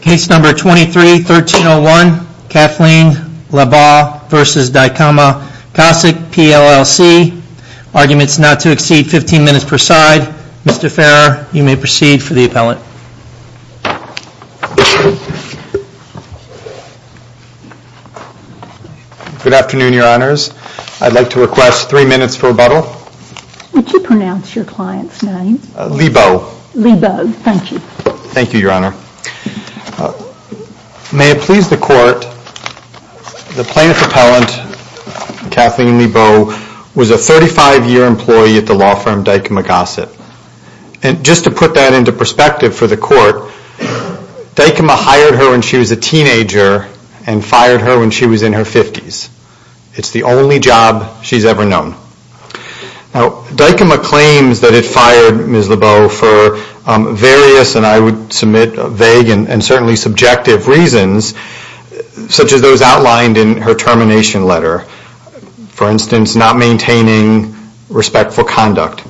Case number 23-1301, Kathleen Liebau v. Dykema Gossett PLLC, arguments not to exceed 15 minutes per side, Mr. Farrar, you may proceed for the appellate. Good afternoon, your honors. I'd like to request three minutes for rebuttal. Would you pronounce your client's name? Liebau. Liebau, thank you. Thank you, your honor. May it please the court, the plaintiff appellant, Kathleen Liebau, was a 35-year employee at the law firm Dykema Gossett. And just to put that into perspective for the court, Dykema hired her when she was a teenager and fired her when she was in her 50s. It's the only job she's ever known. Now, Dykema claims that it fired Ms. Liebau for various, and I would submit vague and certainly subjective reasons, such as those outlined in her termination letter. For instance, not maintaining respectful conduct.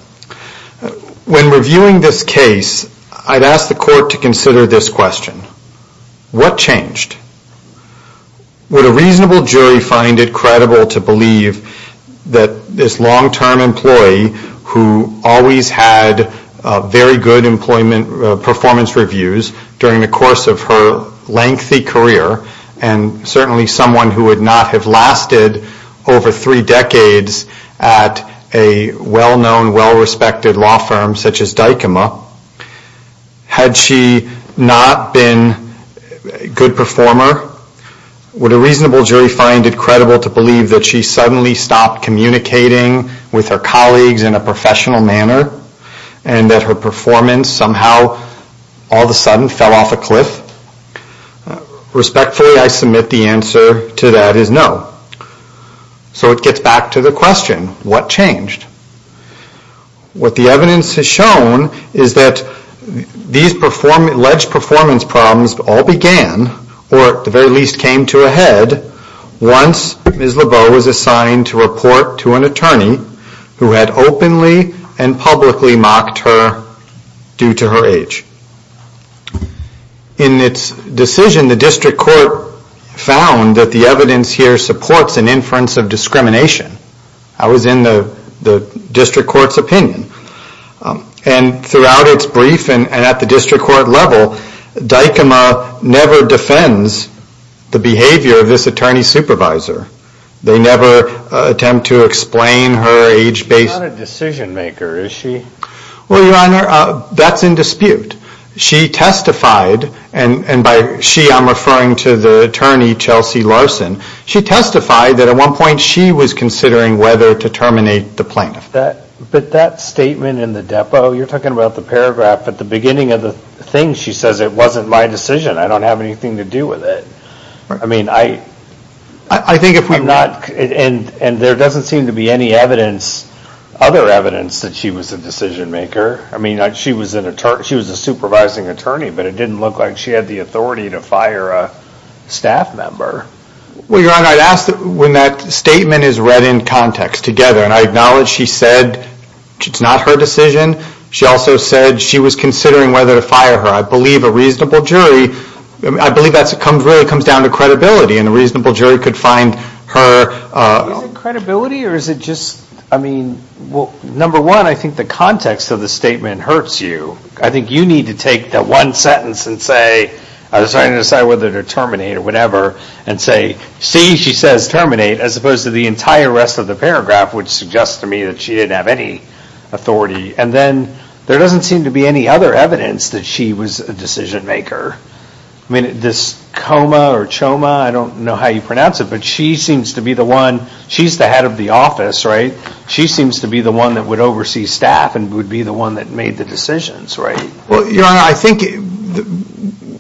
When reviewing this case, I'd ask the court to consider this question. What changed? Would a reasonable jury find it credible to believe that this long-term employee who always had very good performance reviews during the course of her lengthy career, and certainly someone who would not have lasted over three decades at a well-known, well-respected law firm such as Dykema, had she not been a good performer? Would a reasonable jury find it credible to believe that she suddenly stopped communicating with her colleagues in a professional manner, and that her performance somehow, all of a sudden, fell off a cliff? Respectfully, I submit the answer to that is no. So it gets back to the question, what changed? What the evidence has shown is that these alleged performance problems all began, or at the very least came to a head, once Ms. Liebau was assigned to report to an attorney who had openly and publicly mocked her due to her age. In its decision, the district court found that the evidence here supports an inference of discrimination. I was in the district court's opinion. And throughout its briefing, and at the district court level, Dykema never defends the behavior of this attorney supervisor. They never attempt to explain her age-based... She's not a decision maker, is she? Well, Your Honor, that's in dispute. She testified, and by she I'm referring to the attorney, Chelsea Larson, she testified that at one point she was considering whether to terminate the plaintiff. But that statement in the depot, you're talking about the paragraph at the beginning of the thing, she says it wasn't my decision, I don't have anything to do with it. I mean, I think if we've not... And there doesn't seem to be any evidence, other evidence, that she was a decision maker. I mean, she was a supervising attorney, but it didn't look like she had the authority to fire a staff member. Well, Your Honor, I'd ask that when that statement is read in context together, and I acknowledge she said it's not her decision, she also said she was considering whether to fire her. I believe a reasonable jury... I believe that really comes down to credibility, and a reasonable jury could find her... Is it credibility, or is it just... I mean, number one, I think the context of the statement hurts you. I think you need to take that one sentence and say, I decided to decide whether to terminate or whatever, and say, see, she says terminate, as opposed to the entire rest of the paragraph, which suggests to me that she didn't have any authority. And then, there doesn't seem to be any other evidence that she was a decision maker. I mean, this Coma or Choma, I don't know how you pronounce it, but she seems to be the one, she's the head of the office, right? She seems to be the one that would oversee staff, and would be the one that made the decisions, right? Well, Your Honor, I think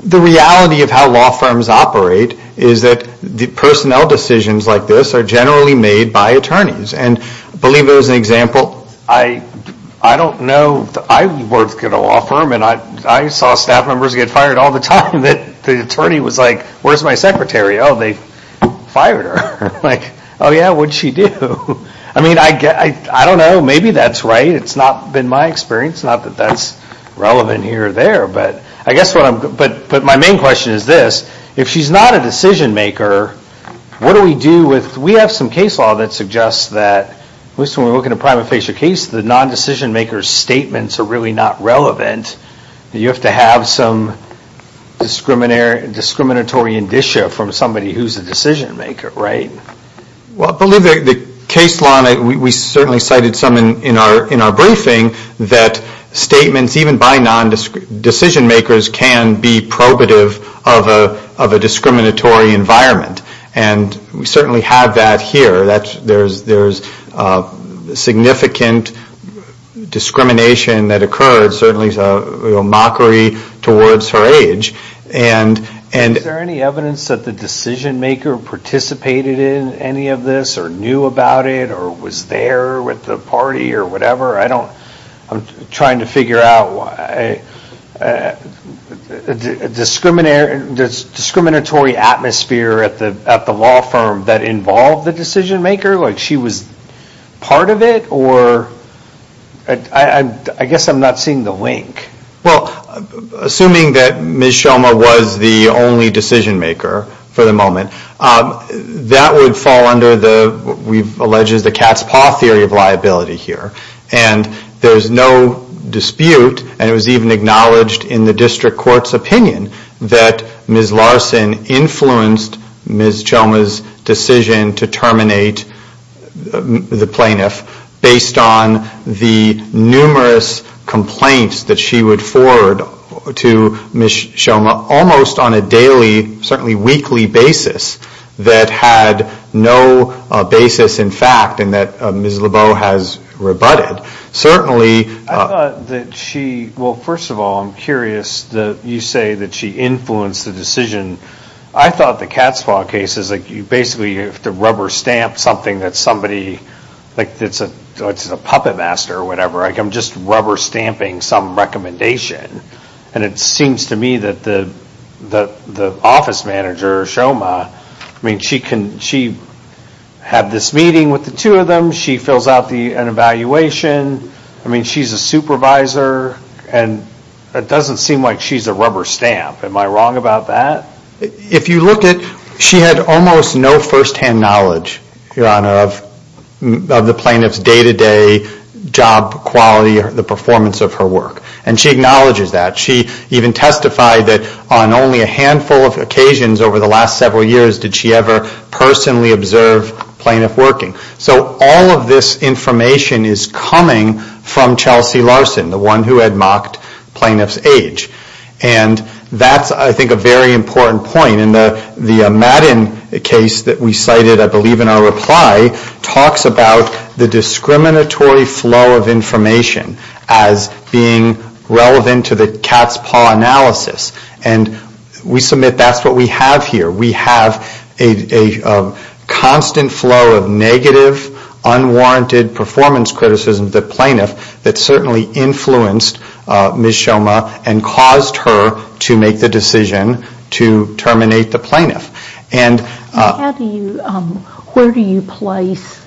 the reality of how law firms operate is that the personnel decisions like this are generally made by attorneys. And I believe there was an example... I don't know... I worked at a law firm, and I saw staff members get fired all the time. The attorney was like, where's my secretary? Oh, they fired her. Like, oh yeah, what'd she do? I mean, I don't know, maybe that's right, it's not been my experience. It's not that that's relevant here or there, but I guess what I'm... But my main question is this. If she's not a decision maker, what do we do with... We have some case law that suggests that, at least when we look at a prima facie case, the non-decision maker's statements are really not relevant. You have to have some discriminatory indicia from somebody who's a decision maker, right? Well, I believe the case law, and we certainly cited some in our briefing, that statements, even by non-decision makers, can be probative of a discriminatory environment. And we certainly have that here. There's significant discrimination that occurred, certainly mockery towards her age, and... Is there any evidence that the decision maker participated in any of this, or knew about it, or was there with the party, or whatever? I don't... I'm trying to figure out why... A discriminatory atmosphere at the law firm that involved the decision maker? Like, she was part of it, or... I guess I'm not seeing the link. Well, assuming that Ms. Shulman was the only decision maker for the moment, that would fall under what we've alleged is the cat's paw theory of liability here. And there's no dispute, and it was even acknowledged in the district court's opinion, that Ms. Larson influenced Ms. Shulman's decision to terminate the plaintiff, based on the numerous complaints that she would forward to Ms. Shulman, almost on a daily, certainly weekly basis, that had no basis in fact, and that Ms. Lebeau has rebutted. Certainly... I thought that she... Well, first of all, I'm curious that you say that she influenced the decision. I thought the cat's paw case is like, you basically have to rubber stamp something that somebody... Like, it's a puppet master, or whatever. Like, I'm just rubber stamping some recommendation. And it seems to me that the office manager, Shulman, I mean, she had this meeting with the two of them, she fills out an evaluation, I mean, she's a supervisor, and it doesn't seem like she's a rubber stamp. Am I wrong about that? If you look at... She had almost no first-hand knowledge, Your Honor, of the plaintiff's day-to-day job quality or the performance of her work. And she acknowledges that. She even testified that on only a handful of occasions over the last several years did she ever personally observe plaintiff working. So all of this information is coming from Chelsea Larson, the one who had mocked plaintiff's age. And that's, I think, a very important point. And the Madden case that we cited, I believe in our reply, talks about the discriminatory flow of information as being relevant to the cat's paw analysis. And we submit that's what we have here. We have a constant flow of negative, unwarranted performance criticism of the plaintiff that certainly influenced Ms. Shulman and caused her to make the decision to terminate the plaintiff. Where do you place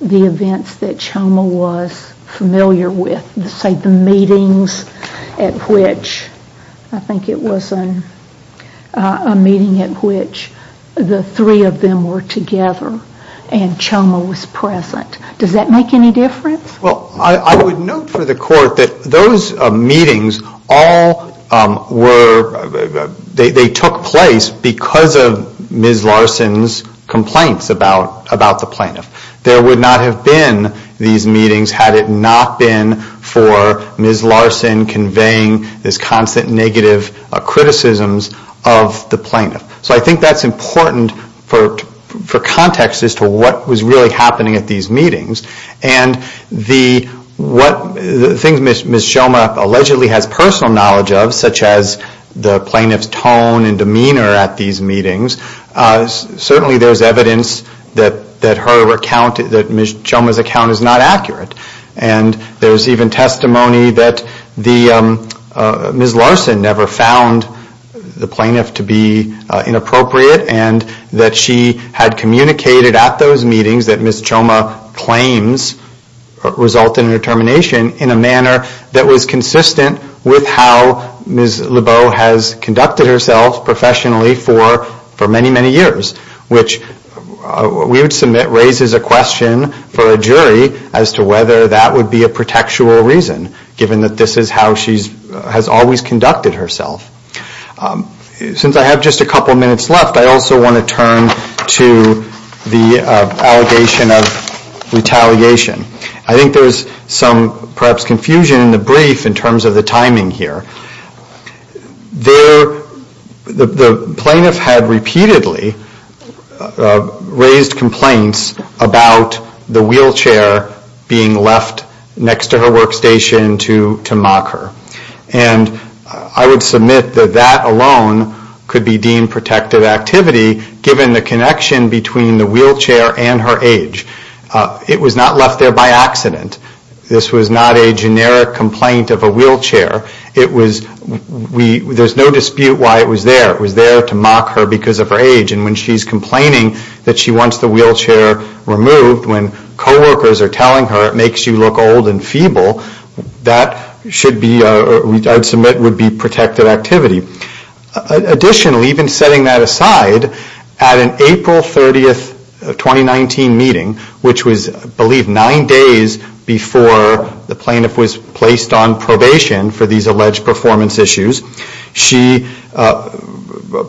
the events that Shulman was familiar with? Say, the meetings at which, I think it was a meeting at which the three of them were together and Shulman was present. Does that make any difference? Well, I would note for the Court that those meetings all were... they took place because of Ms. Larson's complaints about the plaintiff. There would not have been these meetings had it not been for Ms. Larson conveying this constant negative criticisms of the plaintiff. So I think that's important for context as to what was really happening at these meetings. And the things Ms. Shulman allegedly has personal knowledge of, such as the plaintiff's tone and demeanor at these meetings, certainly there's evidence that Ms. Shulman's account is not accurate. And there's even testimony that Ms. Larson never found the plaintiff to be inappropriate and that she had communicated at those meetings that Ms. Shulman's claims resulted in her termination in a manner that was consistent with how Ms. Lebeau has conducted herself professionally for many, many years, which we would submit raises a question for a jury as to whether that would be a protectual reason, given that this is how she has always conducted herself. Since I have just a couple minutes left, I also want to turn to the allegation of retaliation. I think there's some perhaps confusion in the brief in terms of the timing here. The plaintiff had repeatedly raised complaints about the wheelchair being left next to her workstation to mock her. And I would submit that that alone could be deemed protective activity, given the connection between the wheelchair and her age. It was not left there by accident. This was not a generic complaint of a wheelchair. There's no dispute why it was there. It was there to mock her because of her age. And when she's complaining that she wants the wheelchair removed, when co-workers are telling her it makes you look old and feeble, that should be, I'd submit, would be protective activity. Additionally, even setting that aside, at an April 30, 2019 meeting, which was, I believe, nine days before the plaintiff was placed on probation for these alleged performance issues, she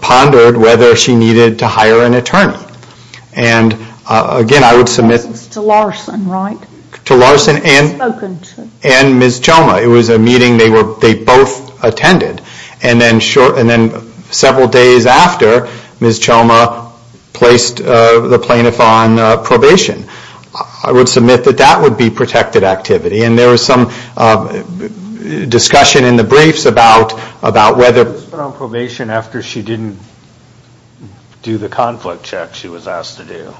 pondered whether she needed to hire an attorney. And again, I would submit... That was to Larson, right? To Larson and Ms. Joma. It was a meeting they both attended. And then several days after, Ms. Joma placed the plaintiff on probation. I would submit that that would be protected activity. And there was some discussion in the briefs about whether... She was put on probation after she didn't do the conflict check she was asked to do.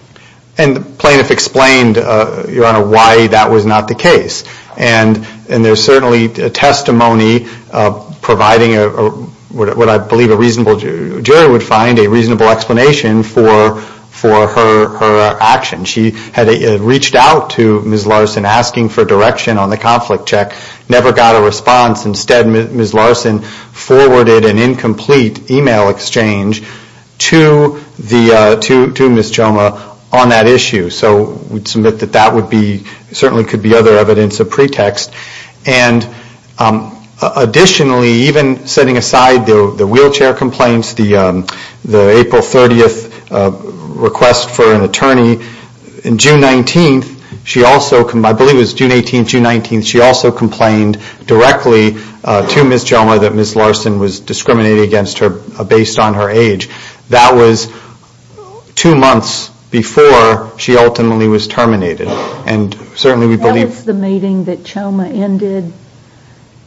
And the plaintiff explained, Your Honor, why that was not the case. And there's certainly testimony providing what I believe a reasonable jury would find, a reasonable explanation for her action. She had reached out to Ms. Larson asking for direction on the conflict check, never got a response. Instead, Ms. Larson forwarded an incomplete email exchange to Ms. Joma on that issue. So we'd submit that that certainly could be other evidence of pretext. And additionally, even setting aside the wheelchair complaints, the April 30th request for an attorney, June 19th, I believe it was June 18th, June 19th, she also complained directly to Ms. Joma that Ms. Larson was discriminating against her based on her age. That was two months before she ultimately was terminated. And certainly we believe... That was the meeting that Joma ended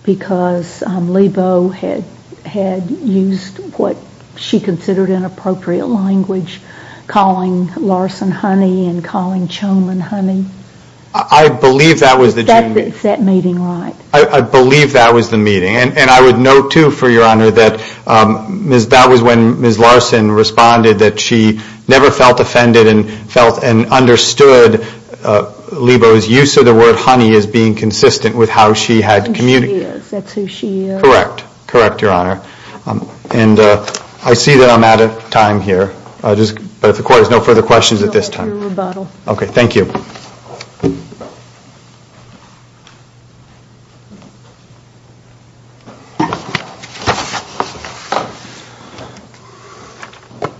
because Lebo had used what she considered inappropriate language, calling Larson honey and calling Joma honey? I believe that was the... Is that meeting right? I believe that was the meeting. And I would note, too, for Your Honor, that that was when Ms. Larson responded that she never felt offended and understood Lebo's use of the word honey as being consistent with how she had communicated. That's who she is. Correct. Correct, Your Honor. And I see that I'm out of time here. But if the Court has no further questions at this time. No further rebuttal. Okay, thank you.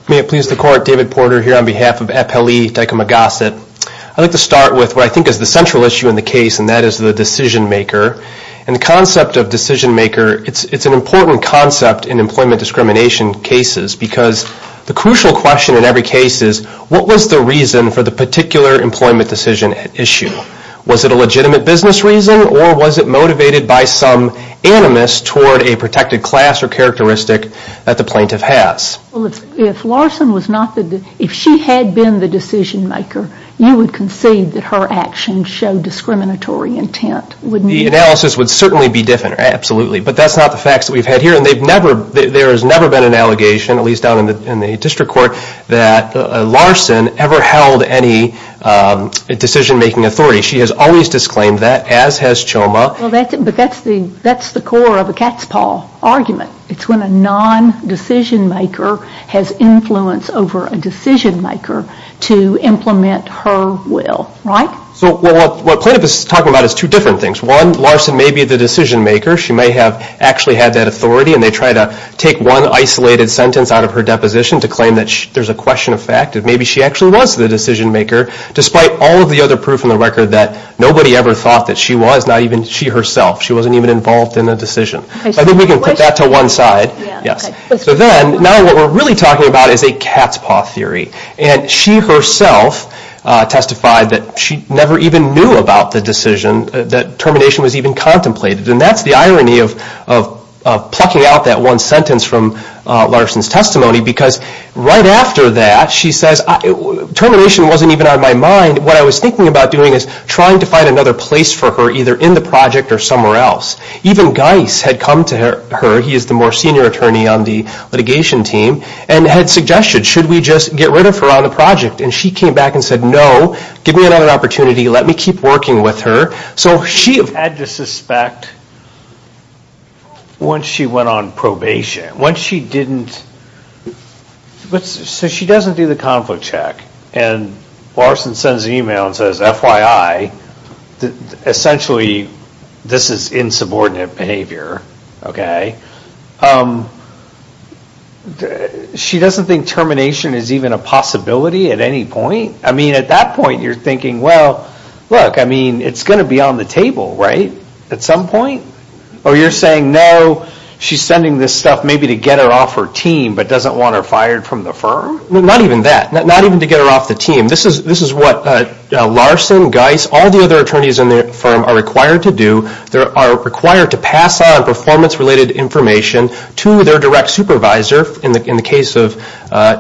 May it please the Court, David Porter here on behalf of FLE Daikoma Gossip. I'd like to start with what I think is the central issue in the case, and that is the decision-maker. And the concept of decision-maker, it's an important concept in employment discrimination cases because the crucial question in every case is, what was the reason for the particular employment decision at issue? Was it a legitimate business reason or was it motivated by some animus toward a protected class or characteristic that the plaintiff has? Well, if Larson was not the decision-maker, if she had been the decision-maker, you would concede that her actions showed discriminatory intent, wouldn't you? The analysis would certainly be different, absolutely. But that's not the facts that we've had here. And there has never been an allegation, at least down in the district court, that Larson ever held any decision-making authority. She has always disclaimed that, as has Choma. But that's the core of a cat's paw argument. It's when a non-decision-maker has influence over a decision-maker to implement her will, right? So what plaintiff is talking about is two different things. One, Larson may be the decision-maker. She may have actually had that authority, and they try to take one isolated sentence out of her deposition to claim that there's a question of fact, and maybe she actually was the decision-maker, despite all of the other proof in the record that nobody ever thought that she was, not even she herself. She wasn't even involved in the decision. I think we can put that to one side. So then, now what we're really talking about is a cat's paw theory. And she herself testified that she never even knew about the decision, that termination was even contemplated. And that's the irony of plucking out that one sentence from Larson's testimony, because right after that, she says, Termination wasn't even on my mind. What I was thinking about doing is trying to find another place for her, either in the project or somewhere else. Even Geis had come to her. He is the more senior attorney on the litigation team, and had suggested, should we just get rid of her on the project? And she came back and said, No, give me another opportunity. Let me keep working with her. So she had to suspect once she went on probation, once she didn't. So she doesn't do the conflict check, and Larson sends an email and says, FYI, essentially this is insubordinate behavior. She doesn't think termination is even a possibility at any point? I mean, at that point, you're thinking, well, look, it's going to be on the table, right, at some point? Or you're saying, no, she's sending this stuff maybe to get her off her team, but doesn't want her fired from the firm? Not even that. Not even to get her off the team. This is what Larson, Geis, all the other attorneys in the firm are required to do. They are required to pass on performance-related information to their direct supervisor. In the case of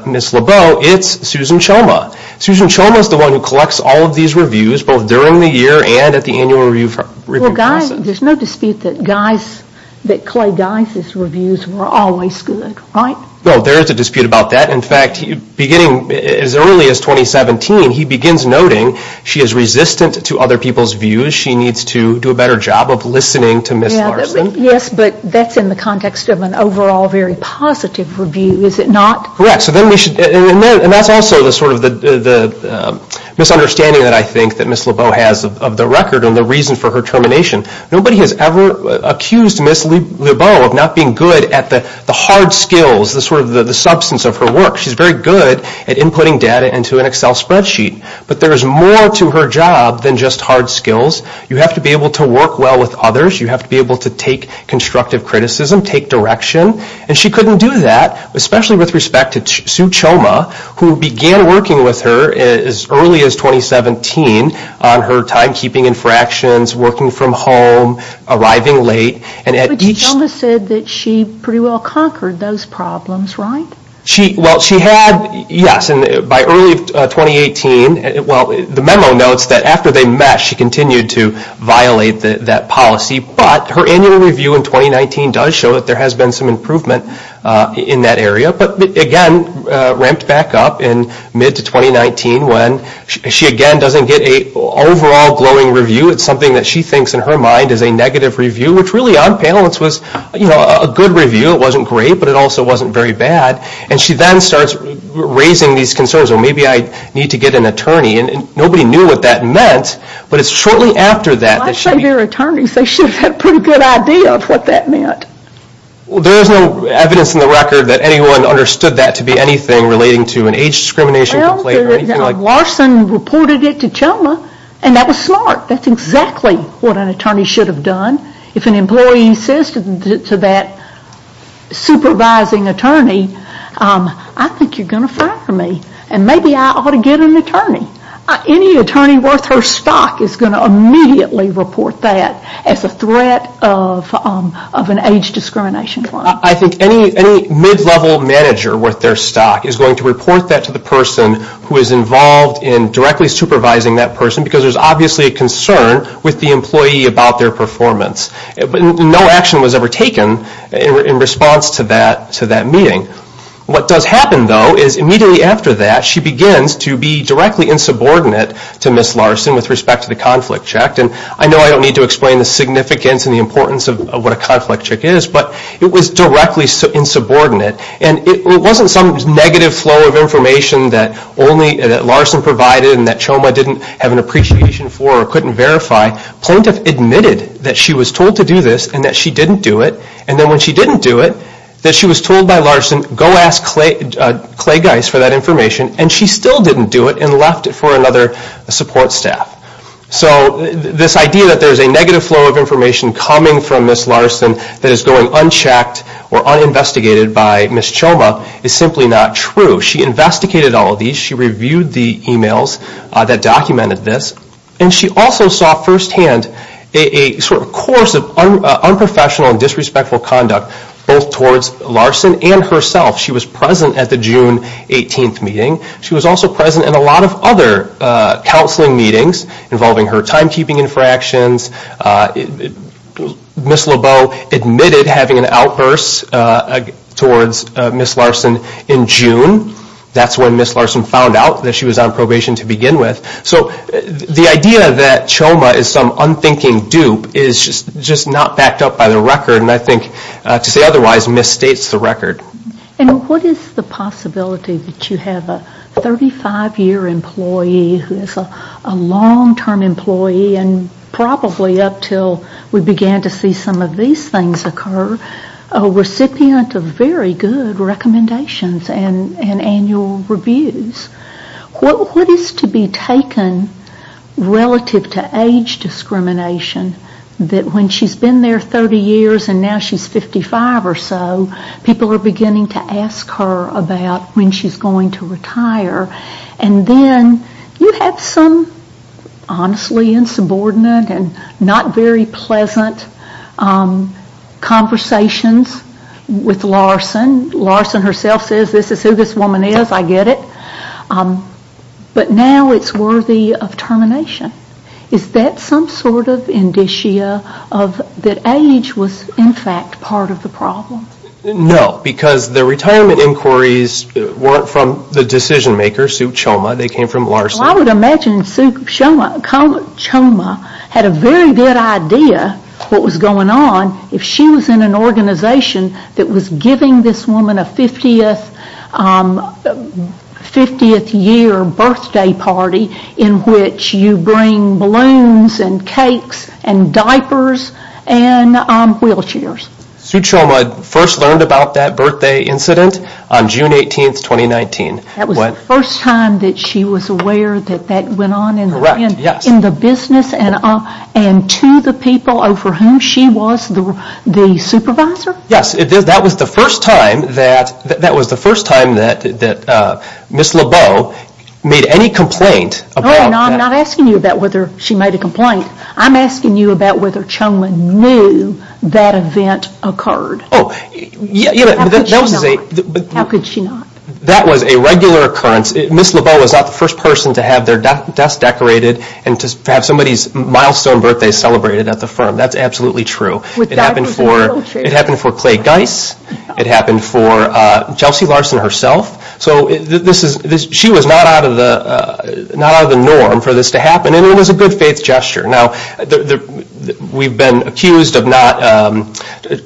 Ms. LeBeau, it's Susan Choma. Susan Choma is the one who collects all of these reviews, both during the year and at the annual review process. There's no dispute that Clay Geis' reviews were always good, right? Well, there is a dispute about that. In fact, beginning as early as 2017, he begins noting she is resistant to other people's views. She needs to do a better job of listening to Ms. Larson. Yes, but that's in the context of an overall very positive review, is it not? Correct. And that's also the sort of the misunderstanding that I think that Ms. LeBeau has of the record and the reason for her termination. Nobody has ever accused Ms. LeBeau of not being good at the hard skills, the sort of the substance of her work. She's very good at inputting data into an Excel spreadsheet. But there is more to her job than just hard skills. You have to be able to work well with others. You have to be able to take constructive criticism, take direction. And she couldn't do that, especially with respect to Sue Choma, who began working with her as early as 2017 on her timekeeping infractions, working from home, arriving late. But Choma said that she pretty well conquered those problems, right? Well, she had, yes. And by early 2018, well, the memo notes that after they met, she continued to violate that policy. But her annual review in 2019 does show that there has been some improvement in that area. But again, ramped back up in mid to 2019 when she again doesn't get an overall glowing review. It's something that she thinks in her mind is a negative review, which really on panelists was a good review. It wasn't great, but it also wasn't very bad. And she then starts raising these concerns, well, maybe I need to get an attorney. And nobody knew what that meant, but it's shortly after that. Well, I say they're attorneys. They should have had a pretty good idea of what that meant. Well, there is no evidence in the record that anyone understood that to be anything relating to an age discrimination complaint or anything like that. Larson reported it to Choma, and that was smart. That's exactly what an attorney should have done. If an employee says to that supervising attorney, I think you're going to fire me, and maybe I ought to get an attorney. Any attorney worth her stock is going to immediately report that as a threat of an age discrimination complaint. I think any mid-level manager worth their stock is going to report that to the person who is involved in directly supervising that person because there's obviously a concern with the employee about their performance. No action was ever taken in response to that meeting. What does happen, though, is immediately after that she begins to be directly insubordinate to Ms. Larson with respect to the conflict check. And I know I don't need to explain the significance and the importance of what a conflict check is, but it was directly insubordinate. And it wasn't some negative flow of information that Larson provided and that Choma didn't have an appreciation for or couldn't verify. Plaintiff admitted that she was told to do this and that she didn't do it. And then when she didn't do it, that she was told by Larson, go ask Clay Geis for that information, and she still didn't do it and left it for another support staff. So this idea that there's a negative flow of information coming from Ms. Larson that is going unchecked or uninvestigated by Ms. Choma is simply not true. She investigated all of these. She reviewed the emails that documented this. And she also saw firsthand a sort of course of unprofessional and disrespectful conduct both towards Larson and herself. She was present at the June 18th meeting. She was also present at a lot of other counseling meetings involving her timekeeping infractions. Ms. LeBeau admitted having an outburst towards Ms. Larson in June. That's when Ms. Larson found out that she was on probation to begin with. So the idea that Choma is some unthinking dupe is just not backed up by the record. And I think to say otherwise misstates the record. And what is the possibility that you have a 35-year employee who is a long-term employee and probably up until we began to see some of these things occur, a recipient of very good recommendations and annual reviews. What is to be taken relative to age discrimination that when she's been there 30 years and now she's 55 or so, people are beginning to ask her about when she's going to retire. And then you have some honestly insubordinate and not very pleasant conversations with Larson. Larson herself says this is who this woman is, I get it. But now it's worthy of termination. Is that some sort of indicia that age was in fact part of the problem? No, because the retirement inquiries weren't from the decision maker, Sue Choma, they came from Larson. I would imagine Sue Choma had a very good idea what was going on if she was in an organization that was giving this woman a 50th year birthday party in which you bring balloons and cakes and diapers and wheelchairs. Sue Choma first learned about that birthday incident on June 18, 2019. That was the first time that she was aware that that went on in the business and to the people over whom she was the supervisor? Yes, that was the first time that Ms. Lebeau made any complaint about that. I'm not asking you about whether she made a complaint. I'm asking you about whether Choma knew that event occurred. How could she not? That was a regular occurrence. Ms. Lebeau was not the first person to have their desk decorated and to have somebody's milestone birthday celebrated at the firm. That's absolutely true. It happened for Clay Geis, it happened for Chelsea Larson herself. She was not out of the norm for this to happen and it was a good faith gesture. We've been accused of not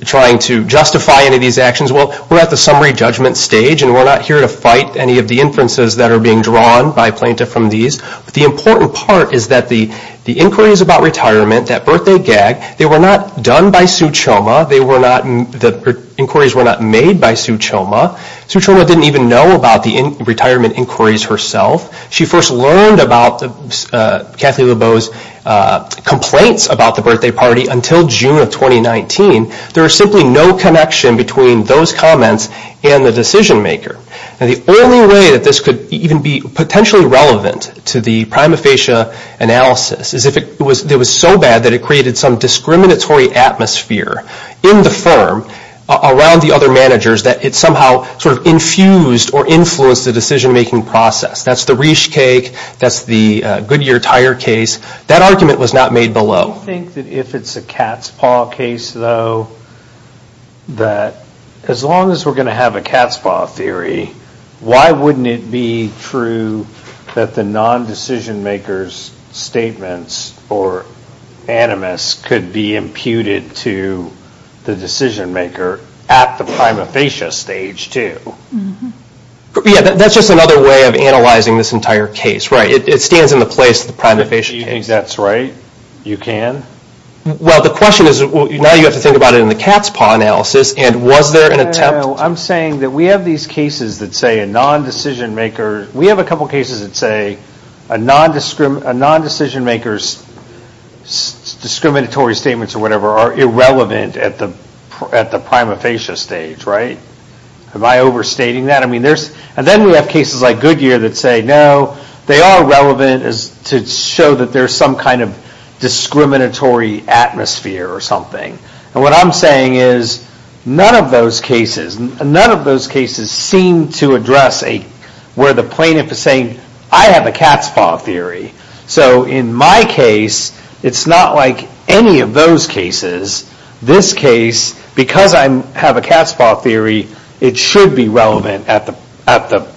trying to justify any of these actions. We're at the summary judgment stage and we're not here to fight any of the inferences that are being drawn by plaintiff from these. The important part is that the inquiries about retirement, that birthday gag, they were not done by Sue Choma. The inquiries were not made by Sue Choma. Sue Choma didn't even know about the retirement inquiries herself. She first learned about Kathleen Lebeau's complaints about the birthday party until June of 2019. There was simply no connection between those comments and the decision maker. The only way that this could even be potentially relevant to the prima facie analysis is if it was so bad that it created some discriminatory atmosphere in the firm around the other managers that it somehow sort of infused or influenced the decision making process. That's the Riesch cake, that's the Goodyear tire case. That argument was not made below. I think that if it's a cat's paw case though, that as long as we're going to have a cat's paw theory, why wouldn't it be true that the non-decision maker's statements or animus could be imputed to the decision maker at the prima facie stage too? Yeah, that's just another way of analyzing this entire case. It stands in the place of the prima facie case. You think that's right? You can? Well, the question is now you have to think about it in the cat's paw analysis and was there an attempt? I'm saying that we have these cases that say a non-decision maker, we have a couple of cases that say a non-decision maker's discriminatory statements or whatever are irrelevant at the prima facie stage, right? Am I overstating that? Then we have cases like Goodyear that say no, they are relevant to show that there's some kind of discriminatory atmosphere or something. What I'm saying is none of those cases seem to address where the plaintiff is saying, I have a cat's paw theory. So in my case, it's not like any of those cases. This case, because I have a cat's paw theory, it should be relevant at the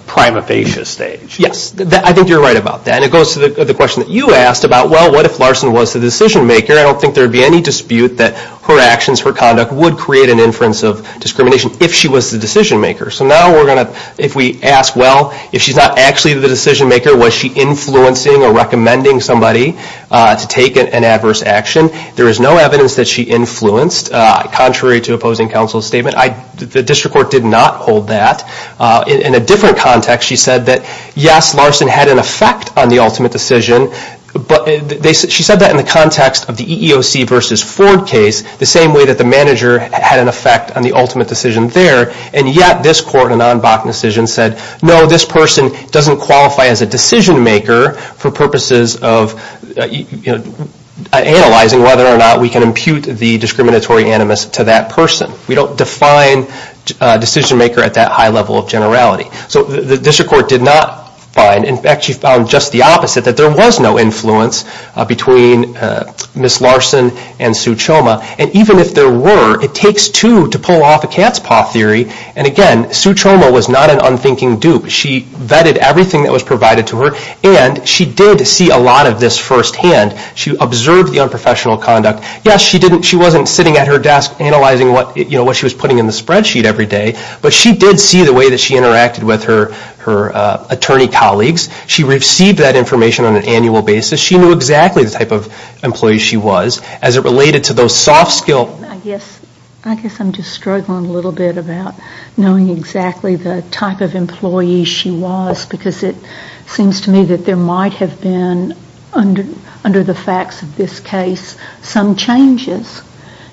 prima facie stage. Yes, I think you're right about that. It goes to the question that you asked about, well, what if Larson was the decision maker? I don't think there would be any dispute that her actions, her conduct, would create an inference of discrimination if she was the decision maker. So now we're going to, if we ask, well, if she's not actually the decision maker, was she influencing or recommending somebody to take an adverse action? There is no evidence that she influenced, contrary to opposing counsel's statement. The district court did not hold that. In a different context, she said that, yes, Larson had an effect on the ultimate decision, but she said that in the context of the EEOC versus Ford case, the same way that the manager had an effect on the ultimate decision there, and yet this court, a non-BAC decision, said, no, this person doesn't qualify as a decision maker for purposes of analyzing whether or not we can impute the discriminatory animus to that person. We don't define decision maker at that high level of generality. So the district court did not find, in fact, she found just the opposite, that there was no influence between Ms. Larson and Sue Choma, and even if there were, it takes two to pull off a cat's paw theory, and again, Sue Choma was not an unthinking dupe. She vetted everything that was provided to her, and she did see a lot of this firsthand. She observed the unprofessional conduct. Yes, she wasn't sitting at her desk analyzing what she was putting in the spreadsheet every day, but she did see the way that she interacted with her attorney colleagues. She received that information on an annual basis. She knew exactly the type of employee she was as it related to those soft skills. I guess I'm just struggling a little bit about knowing exactly the type of employee she was because it seems to me that there might have been, under the facts of this case, some changes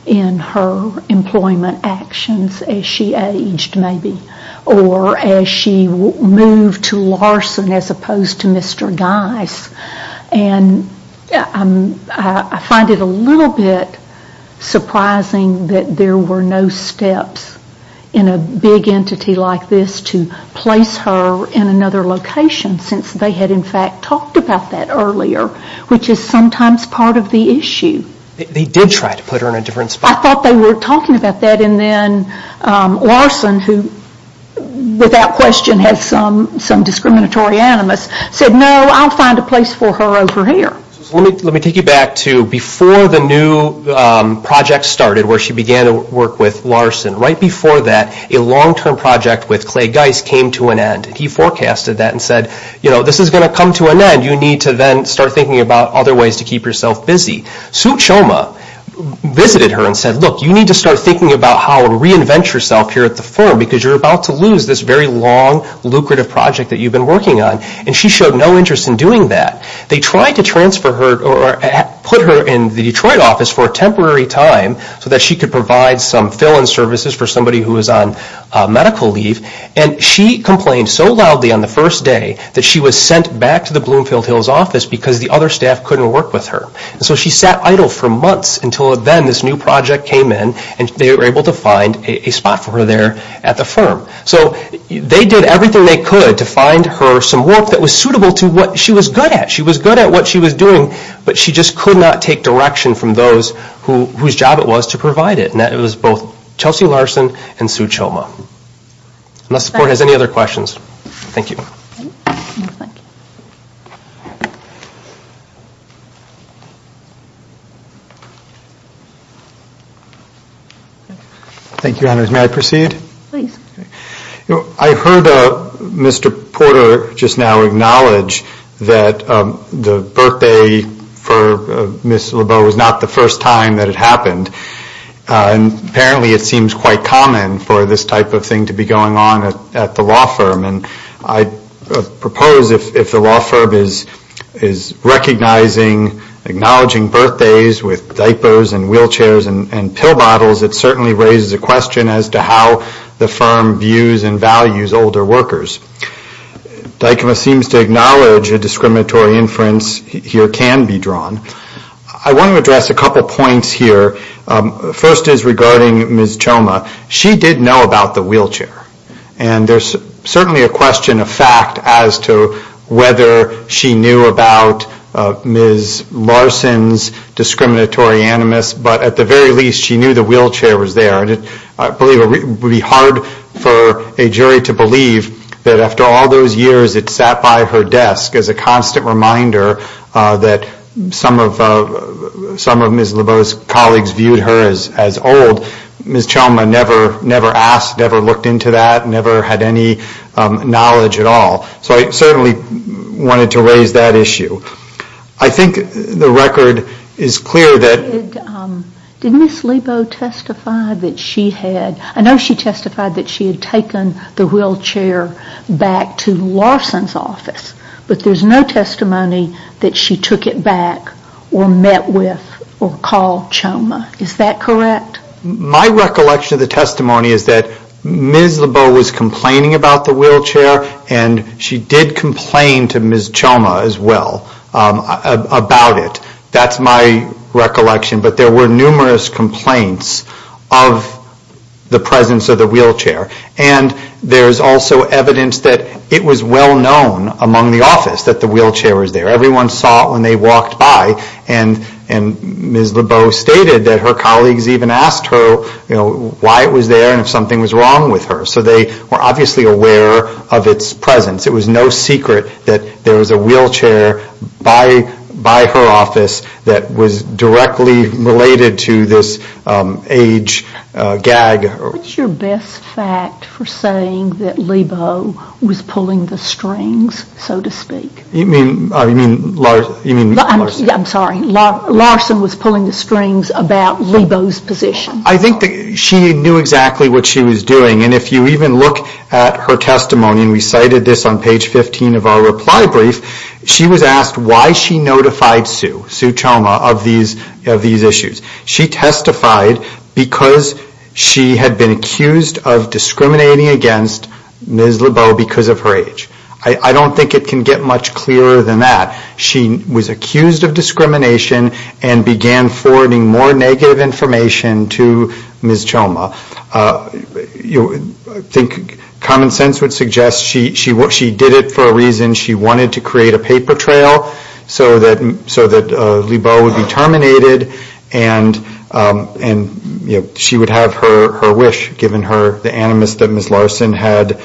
in her employment actions as she aged, maybe, or as she moved to Larson as opposed to Mr. Geis, and I find it a little bit surprising that there were no steps in a big entity like this to place her in another location since they had, in fact, talked about that earlier, which is sometimes part of the issue. They did try to put her in a different spot. I thought they were talking about that, and then Larson, who without question has some discriminatory animus, said, no, I'll find a place for her over here. Let me take you back to before the new project started where she began to work with Larson. Right before that, a long-term project with Clay Geis came to an end. He forecasted that and said, this is going to come to an end. You need to then start thinking about other ways to keep yourself busy. Sue Choma visited her and said, look, you need to start thinking about how to reinvent yourself here at the firm because you're about to lose this very long, lucrative project that you've been working on, and she showed no interest in doing that. They tried to transfer her or put her in the Detroit office for a temporary time so that she could provide some fill-in services for somebody who was on medical leave, and she complained so loudly on the first day that she was sent back to the Bloomfield Hills office because the other staff couldn't work with her. So she sat idle for months until then this new project came in and they were able to find a spot for her there at the firm. So they did everything they could to find her some work that was suitable to what she was good at. She was good at what she was doing, but she just could not take direction from those whose job it was to provide it, and that was both Chelsea Larson and Sue Choma. Unless the board has any other questions, thank you. Thank you, Your Honors. May I proceed? Please. I heard Mr. Porter just now acknowledge that the birthday for Ms. LeBeau was not the first time that it happened, and apparently it seems quite common for this type of thing to be going on at the law firm, and I propose if the law firm is recognizing, acknowledging, birthdays with diapers and wheelchairs and pill bottles, it certainly raises a question as to how the firm views and values older workers. DICMA seems to acknowledge a discriminatory inference here can be drawn. I want to address a couple points here. First is regarding Ms. Choma. She did know about the wheelchair, and there's certainly a question of fact as to whether she knew about Ms. Larson's discriminatory animus, but at the very least she knew the wheelchair was there. I believe it would be hard for a jury to believe that after all those years it sat by her desk as a constant reminder that some of Ms. LeBeau's colleagues viewed her as old. Ms. Choma never asked, never looked into that, never had any knowledge at all. So I certainly wanted to raise that issue. I think the record is clear that... Did Ms. LeBeau testify that she had... I know she testified that she had taken the wheelchair back to Larson's office, but there's no testimony that she took it back or met with or called Choma. Is that correct? My recollection of the testimony is that Ms. LeBeau was complaining about the wheelchair and she did complain to Ms. Choma as well about it. That's my recollection. But there were numerous complaints of the presence of the wheelchair. And there's also evidence that it was well known among the office that the wheelchair was there. Everyone saw it when they walked by. And Ms. LeBeau stated that her colleagues even asked her why it was there and if something was wrong with her. So they were obviously aware of its presence. It was no secret that there was a wheelchair by her office that was directly related to this age gag. What's your best fact for saying that LeBeau was pulling the strings, so to speak? You mean Larson? I'm sorry. Larson was pulling the strings about LeBeau's position. I think she knew exactly what she was doing. And if you even look at her testimony, and we cited this on page 15 of our reply brief, she was asked why she notified Sue, Sue Choma, of these issues. She testified because she had been accused of discriminating against Ms. LeBeau because of her age. I don't think it can get much clearer than that. She was accused of discrimination and began forwarding more negative information to Ms. Choma. I think common sense would suggest she did it for a reason. She wanted to create a paper trail so that LeBeau would be terminated and she would have her wish, given the animus that Ms. Larson had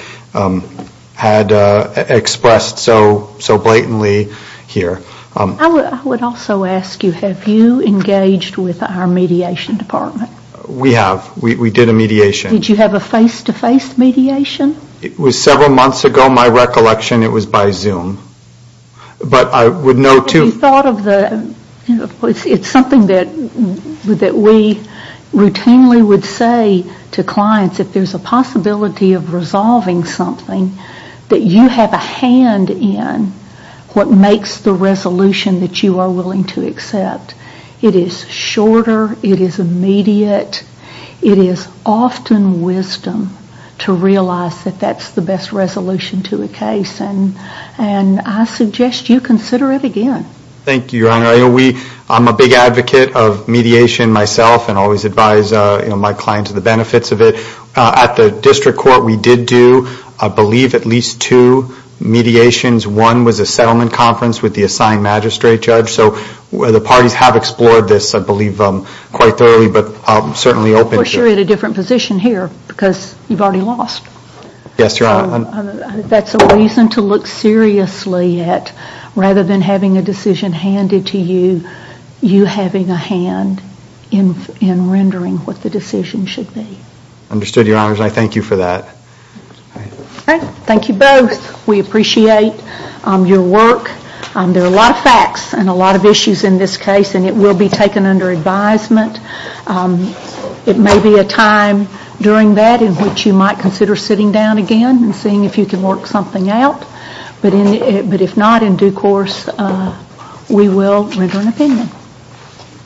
expressed so blatantly here. I would also ask you, have you engaged with our mediation department? We have. We did a mediation. Did you have a face-to-face mediation? It was several months ago, my recollection. It was by Zoom. It's something that we routinely would say to clients, if there's a possibility of resolving something, that you have a hand in what makes the resolution that you are willing to accept. It is shorter. It is immediate. It is often wisdom to realize that that's the best resolution to a case. I suggest you consider it again. Thank you, Your Honor. I'm a big advocate of mediation myself and always advise my clients of the benefits of it. At the district court, we did do, I believe, at least two mediations. One was a settlement conference with the assigned magistrate judge. The parties have explored this, I believe, quite thoroughly. Of course, you're in a different position here because you've already lost. Yes, Your Honor. That's a reason to look seriously at, rather than having a decision handed to you, you having a hand in rendering what the decision should be. Understood, Your Honor. I thank you for that. Thank you both. We appreciate your work. There are a lot of facts and a lot of issues in this case, and it will be taken under advisement. It may be a time during that in which you might consider sitting down again and seeing if you can work something out. But if not, in due course, we will render an opinion.